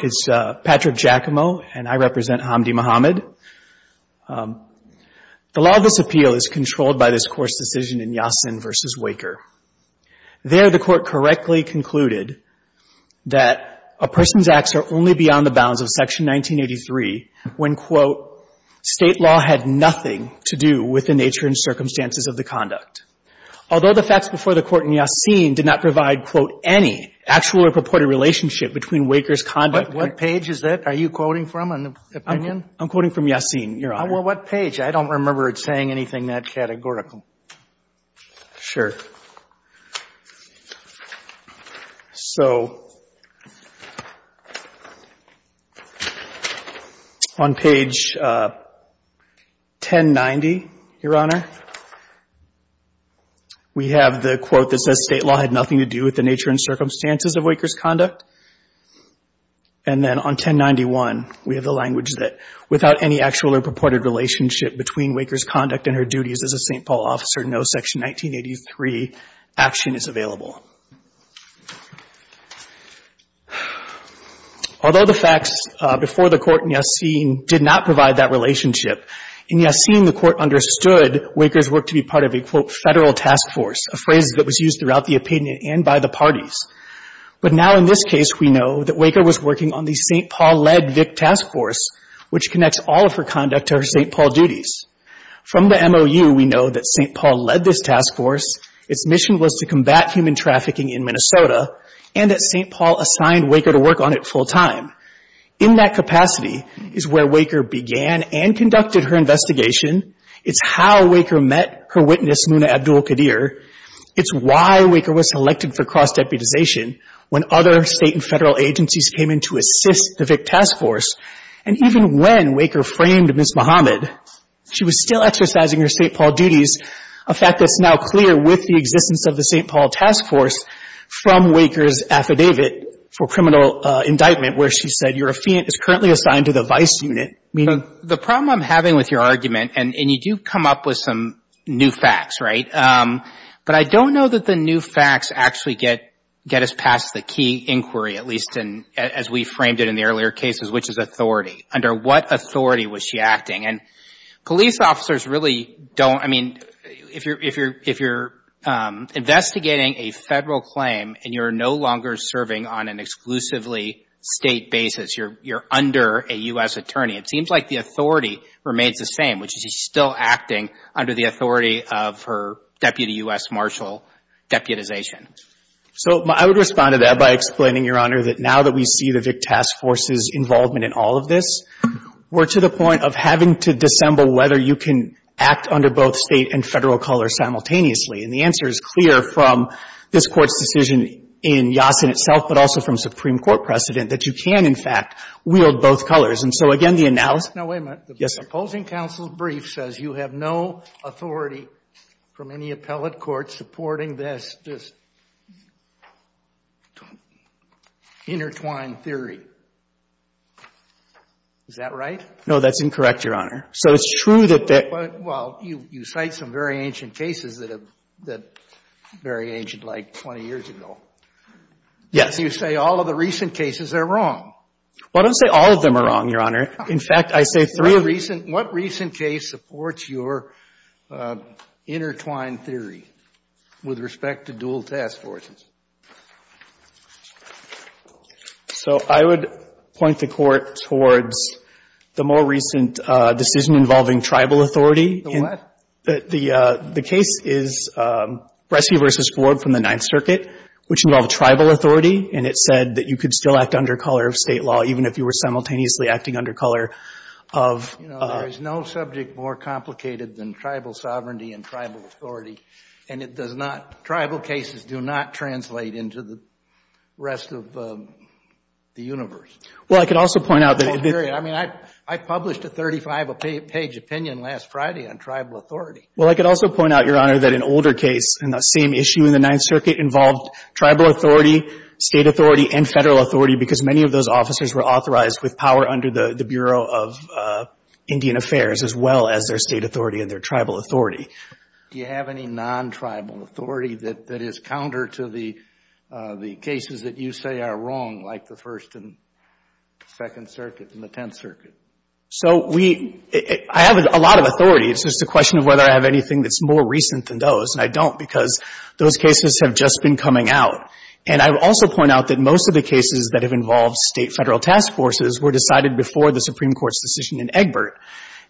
is Patrick Giacomo and I represent Hamdi Mohamud. The law of this appeal is controlled by this course decision in Yassin v. Weyker. There the court correctly concluded that a person's acts are only beyond the bounds of section 1983 when, quote, state law had nothing to do with the nature and circumstances of the conduct. Although the facts before the court in Yassin did not provide, quote, any actual or purported relationship between Weyker's conduct. But what page is that? Are you quoting from an opinion? I'm quoting from Yassin, Your Honor. Well, what page? I don't remember it saying anything that categorical. Sure. So on page 1090, Your Honor, we have the quote that says state law had nothing to do with the nature and circumstances of Weyker's conduct. And then on 1091, we have the language that without any actual or purported relationship between Weyker's conduct and her duties as a St. Paul officer, no section 1983 action is available. Although the facts before the court in Yassin did not provide that relationship, in Yassin, the court understood Weyker's work to be part of a, quote, federal task force, a phrase that was used throughout the opinion and by the parties. But now in this case, we know that Weyker was working on the St. Paul-led VIC task force, which connects all of her conduct to her St. Paul duties. From the MOU, we know that St. Paul led this task force. Its mission was to combat human trafficking in Minnesota, and that St. Paul assigned Weyker to work on it full-time. In that capacity is where Weyker began and conducted her investigation. It's how Weyker met her witness, Muna Abdul-Qadir. It's why Weyker was selected for cross-deputization when other state and federal agencies came in to assist the VIC task force. And even when Weyker framed Ms. Muhammad, she was still exercising her St. Paul duties, a fact that's now clear with the existence of the St. Paul task force from Weyker's affidavit for criminal indictment where she said, your affiant is currently assigned to the VIC unit. I mean, the problem I'm having with your argument, and you do come up with some new facts, right? But I don't know that the new facts actually get us past the key inquiry, at least as we framed it in the earlier cases, which is authority. Under what authority was she acting? And police officers really don't, I mean, if you're investigating a federal claim and you're no longer serving on an exclusively state basis, you're under a U.S. attorney. It seems like the authority remains the same, which is she's still acting under the authority of her deputy U.S. marshal deputization. So I would respond to that by explaining, Your Honor, that now that we see the VIC task force's involvement in all of this, we're to the point of having to dissemble whether you can act under both State and Federal colors simultaneously. And the answer is clear from this Court's decision in Yassin itself, but also from Supreme Court precedent, that you can, in fact, wield both colors. And so again, the analysis --- Sotomayor, the opposing counsel's brief says you have no authority from any appellate court supporting this intertwined theory. Is that right? No, that's incorrect, Your Honor. So it's true that the --- Well, you cite some very ancient cases that are very ancient, like 20 years ago. Yes. You say all of the recent cases are wrong. Well, I don't say all of them are wrong, Your Honor. In fact, I say three of them supports your intertwined theory with respect to dual task forces. So I would point the Court towards the more recent decision involving tribal authority. The what? The case is Bresci v. Ford from the Ninth Circuit, which involved tribal authority. And it said that you could still act under color of State law, even if you were simultaneously acting under color of ---- There is no subject more complicated than tribal sovereignty and tribal authority. And it does not ---- tribal cases do not translate into the rest of the universe. Well, I could also point out that it ---- I mean, I published a 35-page opinion last Friday on tribal authority. Well, I could also point out, Your Honor, that an older case in the same issue in the Ninth Circuit involved tribal authority, State authority, and Federal authority, because many of those officers were authorized with power under the Bureau of Indian Affairs, as well as their State authority and their tribal authority. Do you have any non-tribal authority that is counter to the cases that you say are wrong, like the First and Second Circuit and the Tenth Circuit? So we ---- I have a lot of authority. It's just a question of whether I have anything that's more recent than those. And I don't, because those cases have just been coming out. And I would also point out that most of the cases that have involved State Federal task forces were decided before the Supreme Court's decision in Egbert.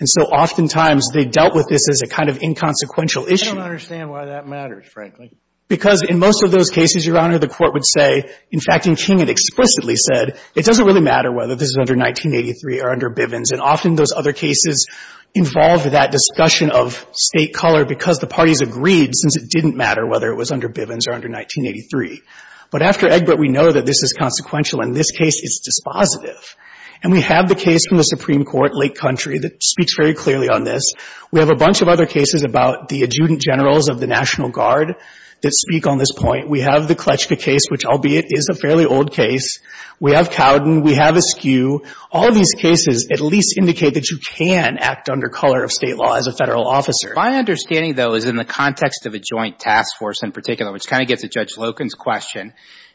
And so oftentimes, they dealt with this as a kind of inconsequential issue. I don't understand why that matters, frankly. Because in most of those cases, Your Honor, the Court would say, in fact, in King it explicitly said, it doesn't really matter whether this is under 1983 or under Bivens. And often those other cases involved that discussion of State color because the parties agreed, since it didn't matter whether it was under Bivens or under 1983. But after Egbert, we know that this is consequential. In this case, it's dispositive. And we have the case from the Supreme Court, Lake Country, that speaks very clearly on this. We have a bunch of other cases about the adjutant generals of the National Guard that speak on this point. We have the Kletchka case, which, albeit, is a fairly old case. We have Cowden. We have Askew. All of these cases at least indicate that you can act under color of State law as a Federal officer. My understanding, though, is in the context of a joint task force in particular, which kind of gets at Judge Loken's question.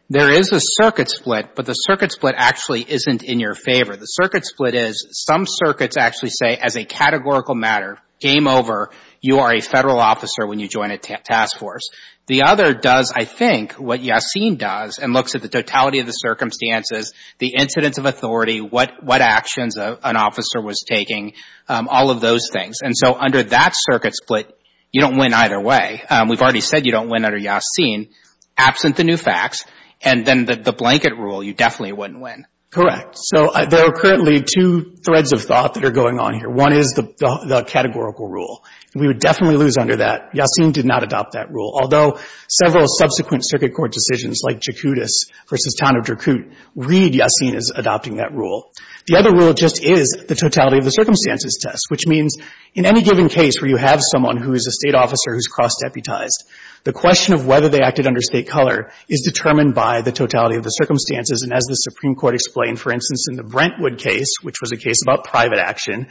There is a circuit split, but the circuit split actually isn't in your favor. The circuit split is some circuits actually say as a categorical matter, game over, you are a Federal officer when you join a task force. The other does, I think, what Yassin does and looks at the totality of the circumstances, the incidence of authority, what actions an officer was taking, all of those things. And so under that circuit split, you don't win either way. We've already said you don't win under Yassin. Absent the new facts and then the blanket rule, you definitely wouldn't win. Correct. So there are currently two threads of thought that are going on here. One is the categorical rule. We would definitely lose under that. Yassin did not adopt that rule. Although several subsequent circuit court decisions like Jakutis v. Town of Jakut read Yassin as adopting that rule. The other rule just is the totality of the circumstances test, which means in any given case where you have someone who is a State officer who is cross-deputized, the question of whether they acted under State color is determined by the totality of the circumstances. And as the Supreme Court explained, for instance, in the Brentwood case, which was a case about private action,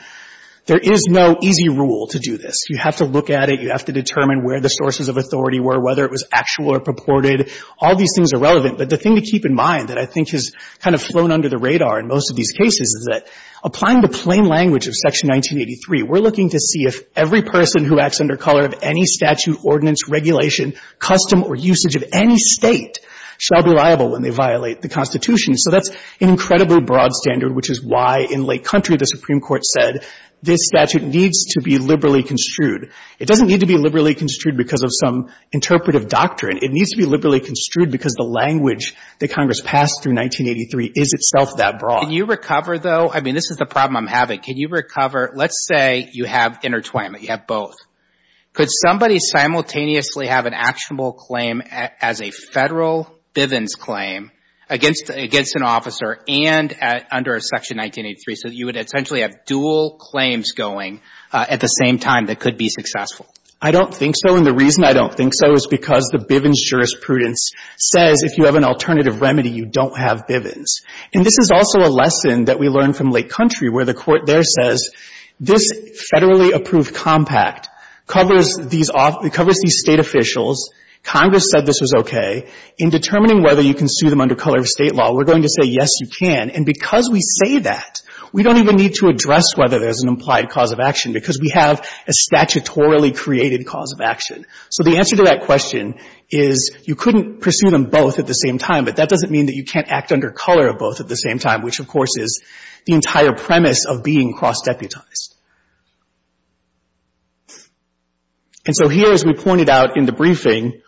there is no easy rule to do this. You have to look at it. You have to determine where the sources of authority were, whether it was actual or purported. All these things are relevant. But the thing to keep in mind that I think has kind of flown under the radar in most of these cases is that applying the plain language of Section 1983, we're looking to see if every person who acts under color of any statute, ordinance, regulation, custom or usage of any State shall be liable when they violate the Constitution. So that's an incredibly broad standard, which is why in late country the Supreme Court said this statute needs to be liberally construed. It doesn't need to be liberally construed because of some interpretive doctrine. It needs to be liberally construed because the language that Congress passed through 1983 is itself that broad. Can you recover, though? I mean, this is the problem I'm having. Can you recover — let's say you have intertwinement, you have both. Could somebody simultaneously have an actionable claim as a Federal Bivens claim against an officer and under a Section 1983 so that you would essentially have dual claims going at the same time that could be successful? I don't think so. And the reason I don't think so is because the Bivens jurisprudence says if you have an alternative remedy, you don't have Bivens. And this is also a lesson that we learned from late country where the Court there says this Federally approved compact covers these — covers these State officials. Congress said this was okay. In determining whether you can sue them under color of State law, we're going to say, yes, you can. And because we say that, we don't even need to address whether there's an implied cause of action because we have a statutorily created cause of action. So the answer to that question is you couldn't pursue them both at the same time, but that doesn't mean that you can't act under color of both at the same time, which of course is the entire premise of being cross-deputized. And so here, as we pointed out in the briefing,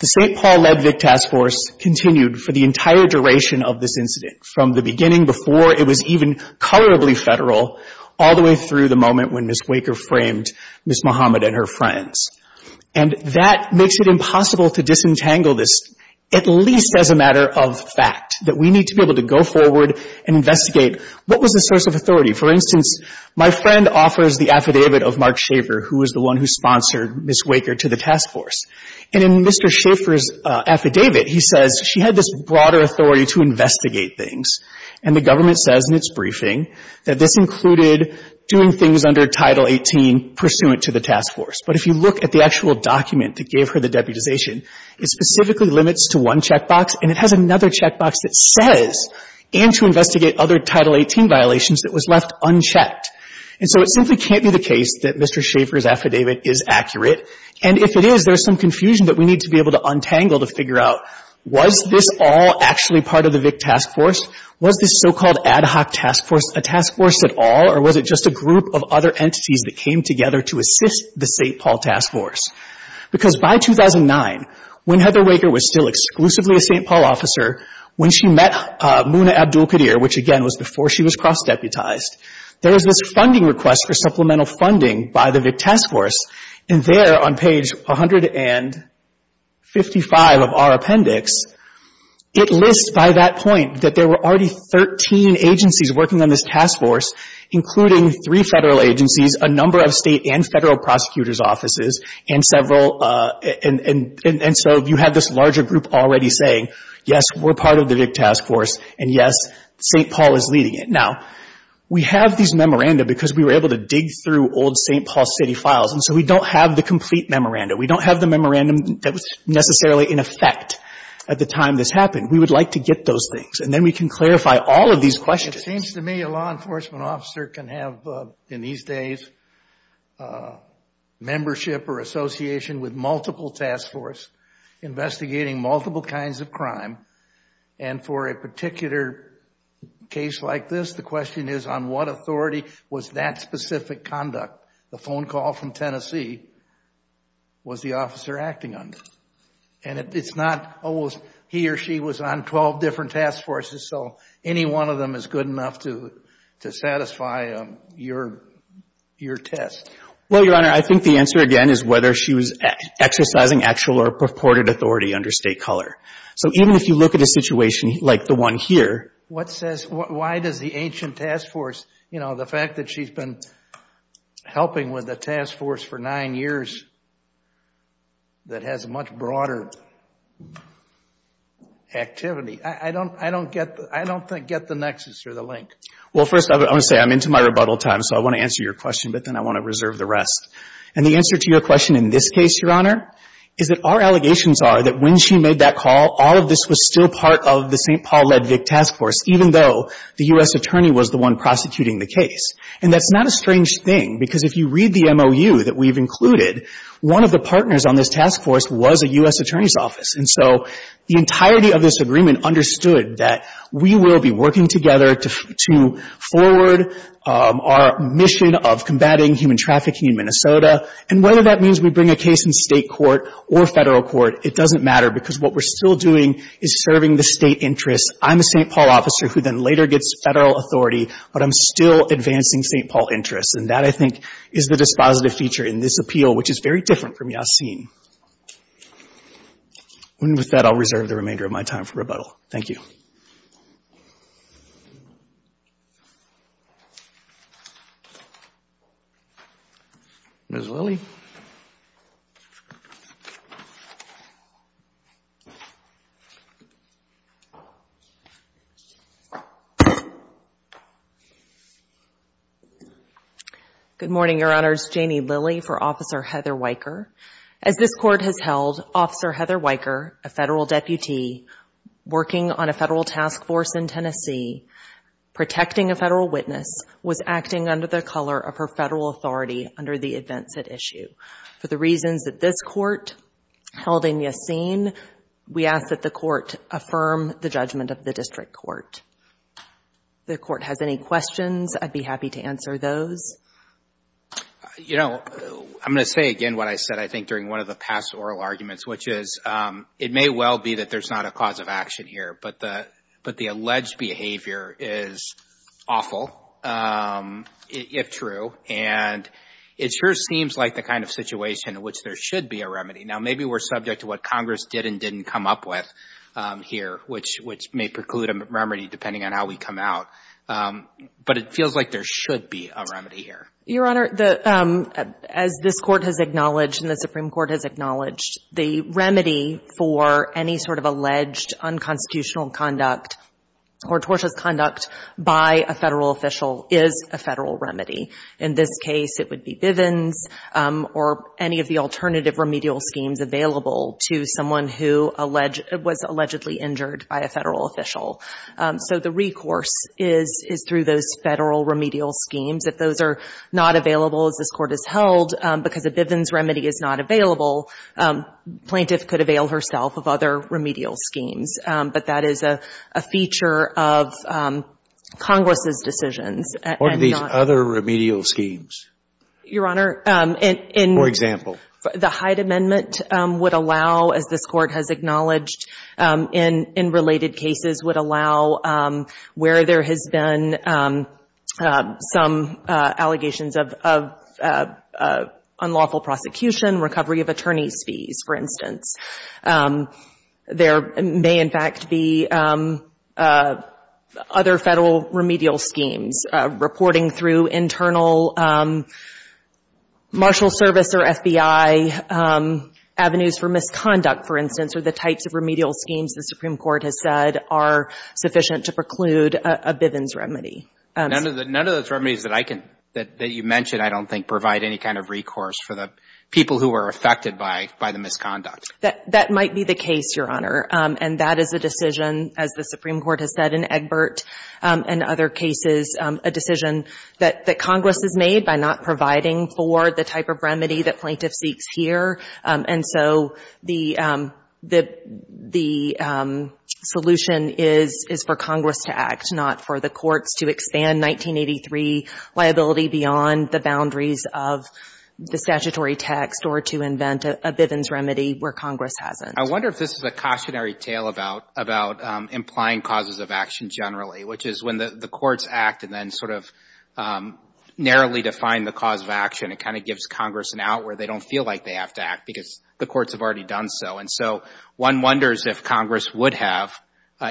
the St. Paul-led VIC Task Force continued for the entire duration of this incident, from the beginning before it was even colorably federal all the way through the moment when Ms. Waker framed Ms. Muhammad and her friends. And that makes it impossible to disentangle this, at least as a matter of fact, that we need to be able to go forward and investigate what was the source of authority. For instance, my friend offers the affidavit of Mark Schaefer, who was the one who sponsored Ms. Waker to the task force. And in Mr. Schaefer's affidavit, he says she had this broader authority to investigate things. And the government says in its briefing that this included doing things under Title 18 pursuant to the task force. But if you look at the actual document that gave her the deputization, it specifically limits to one checkbox, and it has another checkbox that says, and to investigate other Title 18 violations, it was left unchecked. And so it simply can't be the case that Mr. Schaefer's affidavit is accurate. And if it is, there's some confusion that we need to be able to untangle to figure out, was this all actually part of the VIC task force? Was this so-called ad hoc task force a task force at all, or was it just a group of other entities that came together to assist the St. Paul task force? Because by 2009, when Heather Waker was still exclusively a St. Paul officer, when she met Muna Abdul-Qadir, which again was before she was cross-deputized, there was this funding request for supplemental funding by the VIC task force. And there on page 155 of our appendix, it lists by that point that there were already 13 agencies working on this task force, including three Federal agencies, a number of State and Federal prosecutor's offices, and several, and so you have this larger group already saying, yes, we're part of the VIC task force, and yes, St. Paul is leading it. Now, we have these memoranda because we were able to dig through old St. Paul City files, and so we don't have the complete memoranda. We don't have the memoranda that was necessarily in effect at the time this happened. We would like to get those things, and then we can clarify all of these questions. It seems to me a law enforcement officer can have, in these days, membership or association with multiple task force investigating multiple kinds of crime, and for a particular case like this, the question is on what authority was that specific conduct, the phone call from Tennessee, was the officer acting under? And it's not always he or she was on 12 different task forces, so any one of them is good enough to satisfy your test. Well, Your Honor, I think the answer, again, is whether she was exercising actual or purported authority under State color. So even if you look at a situation like the one here. What says, why does the ancient task force, you know, the fact that she's been helping with the task force for nine years that has much broader activity, I don't think get the nexus or the link. Well, first, I want to say I'm into my rebuttal time, so I want to answer your question, but then I want to reserve the rest. And the answer to your question in this case, Your Honor, is that our allegations are that when she made that call, all of this was still part of the St. Paul Ledvick task force, even though the U.S. attorney was the one prosecuting the case. And that's not a strange thing, because if you read the MOU that we've included, one of the partners on this task force was a U.S. attorney's office, and so the entirety of this agreement understood that we will be working together to forward our mission of combating human trafficking in Minnesota, and whether that means we bring a case in State court or Federal court, it doesn't matter, because what we're still doing is serving the State interests. I'm a St. Paul officer who then later gets Federal authority, but I'm still advancing St. Paul interests, and that, I think, is the dispositive feature in this appeal, which is very different from Yassine. And with that, I'll reserve the remainder of my time for rebuttal. Thank you. Ms. Lilley. Good morning, Your Honors. Janie Lilley for Officer Heather Weicker. As this Court has held, Officer Heather Weicker, a Federal deputy, working on a Federal task force in Tennessee, protecting a Federal witness, was acting under the color of her Federal authority under the events at issue. For the reasons that this Court held in Yassine, we ask that the Court affirm the judgment of the District Court. If the Court has any questions, I'd be happy to answer those. You know, I'm going to say again what I said, I think, during one of the past oral arguments, which is it may well be that there's not a cause of action here, but the alleged behavior is awful, if true, and it sure seems like the kind of situation in which there should be a remedy. Now, maybe we're subject to what Congress did and didn't come up with here, which may preclude a remedy depending on how we come out, but it feels like there should be a remedy here. Your Honor, as this Court has acknowledged and the Supreme Court has acknowledged, the remedy for any sort of alleged unconstitutional conduct or tortious conduct by a Federal official is a Federal remedy. In this case, it would be Bivens or any of the alternative remedial schemes available to someone who was allegedly injured by a Federal official. So the recourse is through those Federal remedial schemes. If those are not available, as this Court has held, because a Bivens remedy is not available, the plaintiff could avail herself of other remedial schemes. But that is a feature of Congress's decisions. And we're not going to do that. What are these other remedial schemes? Your Honor, in the Hyde Amendment would allow, as this Court has acknowledged, in related cases would allow where there has been some allegations of unlawful prosecution, recovery of attorney's fees, for instance. There may, in fact, be other Federal remedial schemes, reporting through internal marshal service or FBI, avenues for misconduct, for instance. But none of those remedial schemes, the Supreme Court has said, are sufficient to preclude a Bivens remedy. None of those remedies that you mentioned, I don't think, provide any kind of recourse for the people who are affected by the misconduct. That might be the case, Your Honor. And that is a decision, as the Supreme Court has said in Egbert and other cases, a decision that Congress has made by not providing for the type of remedy that plaintiff seeks here. And so the solution is for Congress to act, not for the courts to expand 1983 liability beyond the boundaries of the statutory text or to invent a Bivens remedy where Congress hasn't. I wonder if this is a cautionary tale about implying causes of action generally, which is when the courts act and then sort of narrowly define the cause of action, it kind of gives Congress an out where they don't feel like they have to act because the courts have already done so. And so one wonders if Congress would have,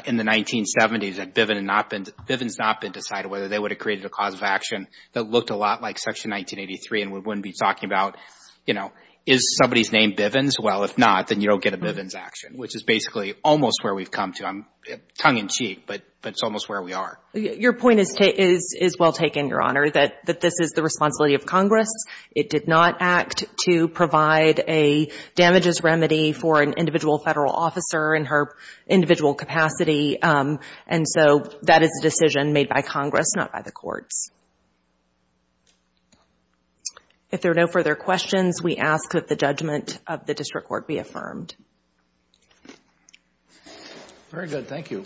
in the 1970s, if Bivens had not been decided, whether they would have created a cause of action that looked a lot like Section 1983 and we wouldn't be talking about, you know, is somebody's name Bivens? Well, if not, then you don't get a Bivens action, which is basically almost where we've come to. Tongue in cheek, but it's almost where we are. Your point is well taken, Your Honor, that this is the responsibility of Congress. It did not act to provide a damages remedy for an individual Federal officer in her individual capacity. And so that is a decision made by Congress, not by the courts. If there are no further questions, we ask that the judgment of the district court be affirmed. Very good. Thank you.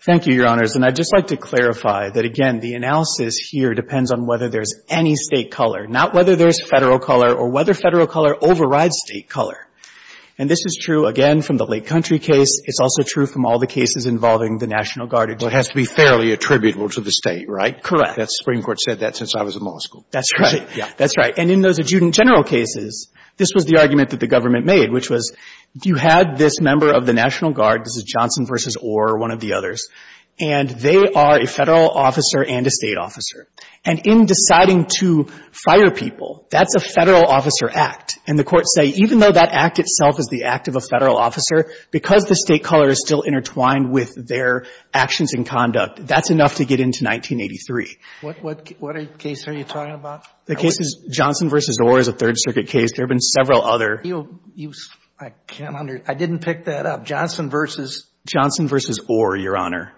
Thank you, Your Honors. And I'd just like to clarify that, again, the analysis here depends on whether there's any State color, not whether there's Federal color or whether Federal color overrides State color. And this is true, again, from the Lake Country case. It's also true from all the cases involving the National Guard but has to be fairly attributable to the State, right? Correct. The Supreme Court said that since I was in law school. That's right. Yeah. That's right. And in those adjudant general cases, this was the argument that the Government made, which was you had this member of the National Guard, this is Johnson v. Orr, one of the others, and they are a Federal officer and a State officer. And in deciding to fire people, that's a Federal officer act. And the courts say even though that act itself is the act of a Federal officer, because the State color is still intertwined with their actions and conduct, that's enough to get into 1983. What case are you talking about? The case is Johnson v. Orr is a Third Circuit case. There have been several other. I can't understand. I didn't pick that up. Johnson v. Johnson v. Orr, Your Honor.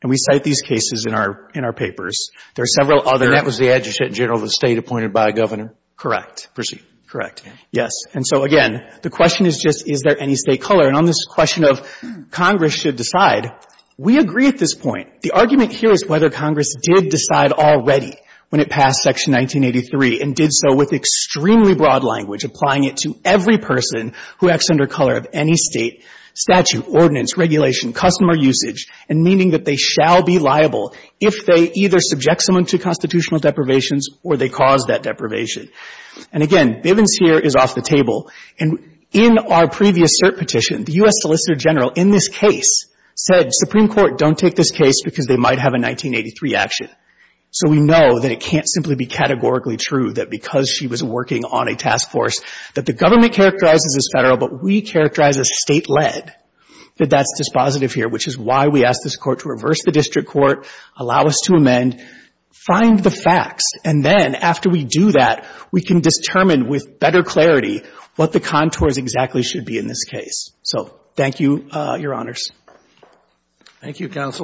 And we cite these cases in our papers. There are several other. And that was the adjudant general of the State appointed by a Governor. Correct. Proceed. Correct. Yes. And so, again, the question is just is there any State color? And on this question of Congress should decide, we agree at this point. The argument here is whether Congress did decide already when it passed Section 1983 and did so with extremely broad language, applying it to every person who acts under color of any State statute, ordinance, regulation, customer usage, and meaning that they shall be liable if they either subject someone to constitutional deprivations or they cause that deprivation. And, again, Bivens here is off the table. And in our previous cert petition, the U.S. Solicitor General in this case said Supreme Court, don't take this case because they might have a 1983 action. So we know that it can't simply be categorically true that because she was working on a task force that the Government characterizes as Federal, but we characterize as State-led, that that's dispositive here, which is why we ask this Court to reverse the district court, allow us to amend, find the facts, and then after we do that, we can determine with better clarity what the contours exactly should be in this case. So thank you, Your Honors. Thank you, counsel.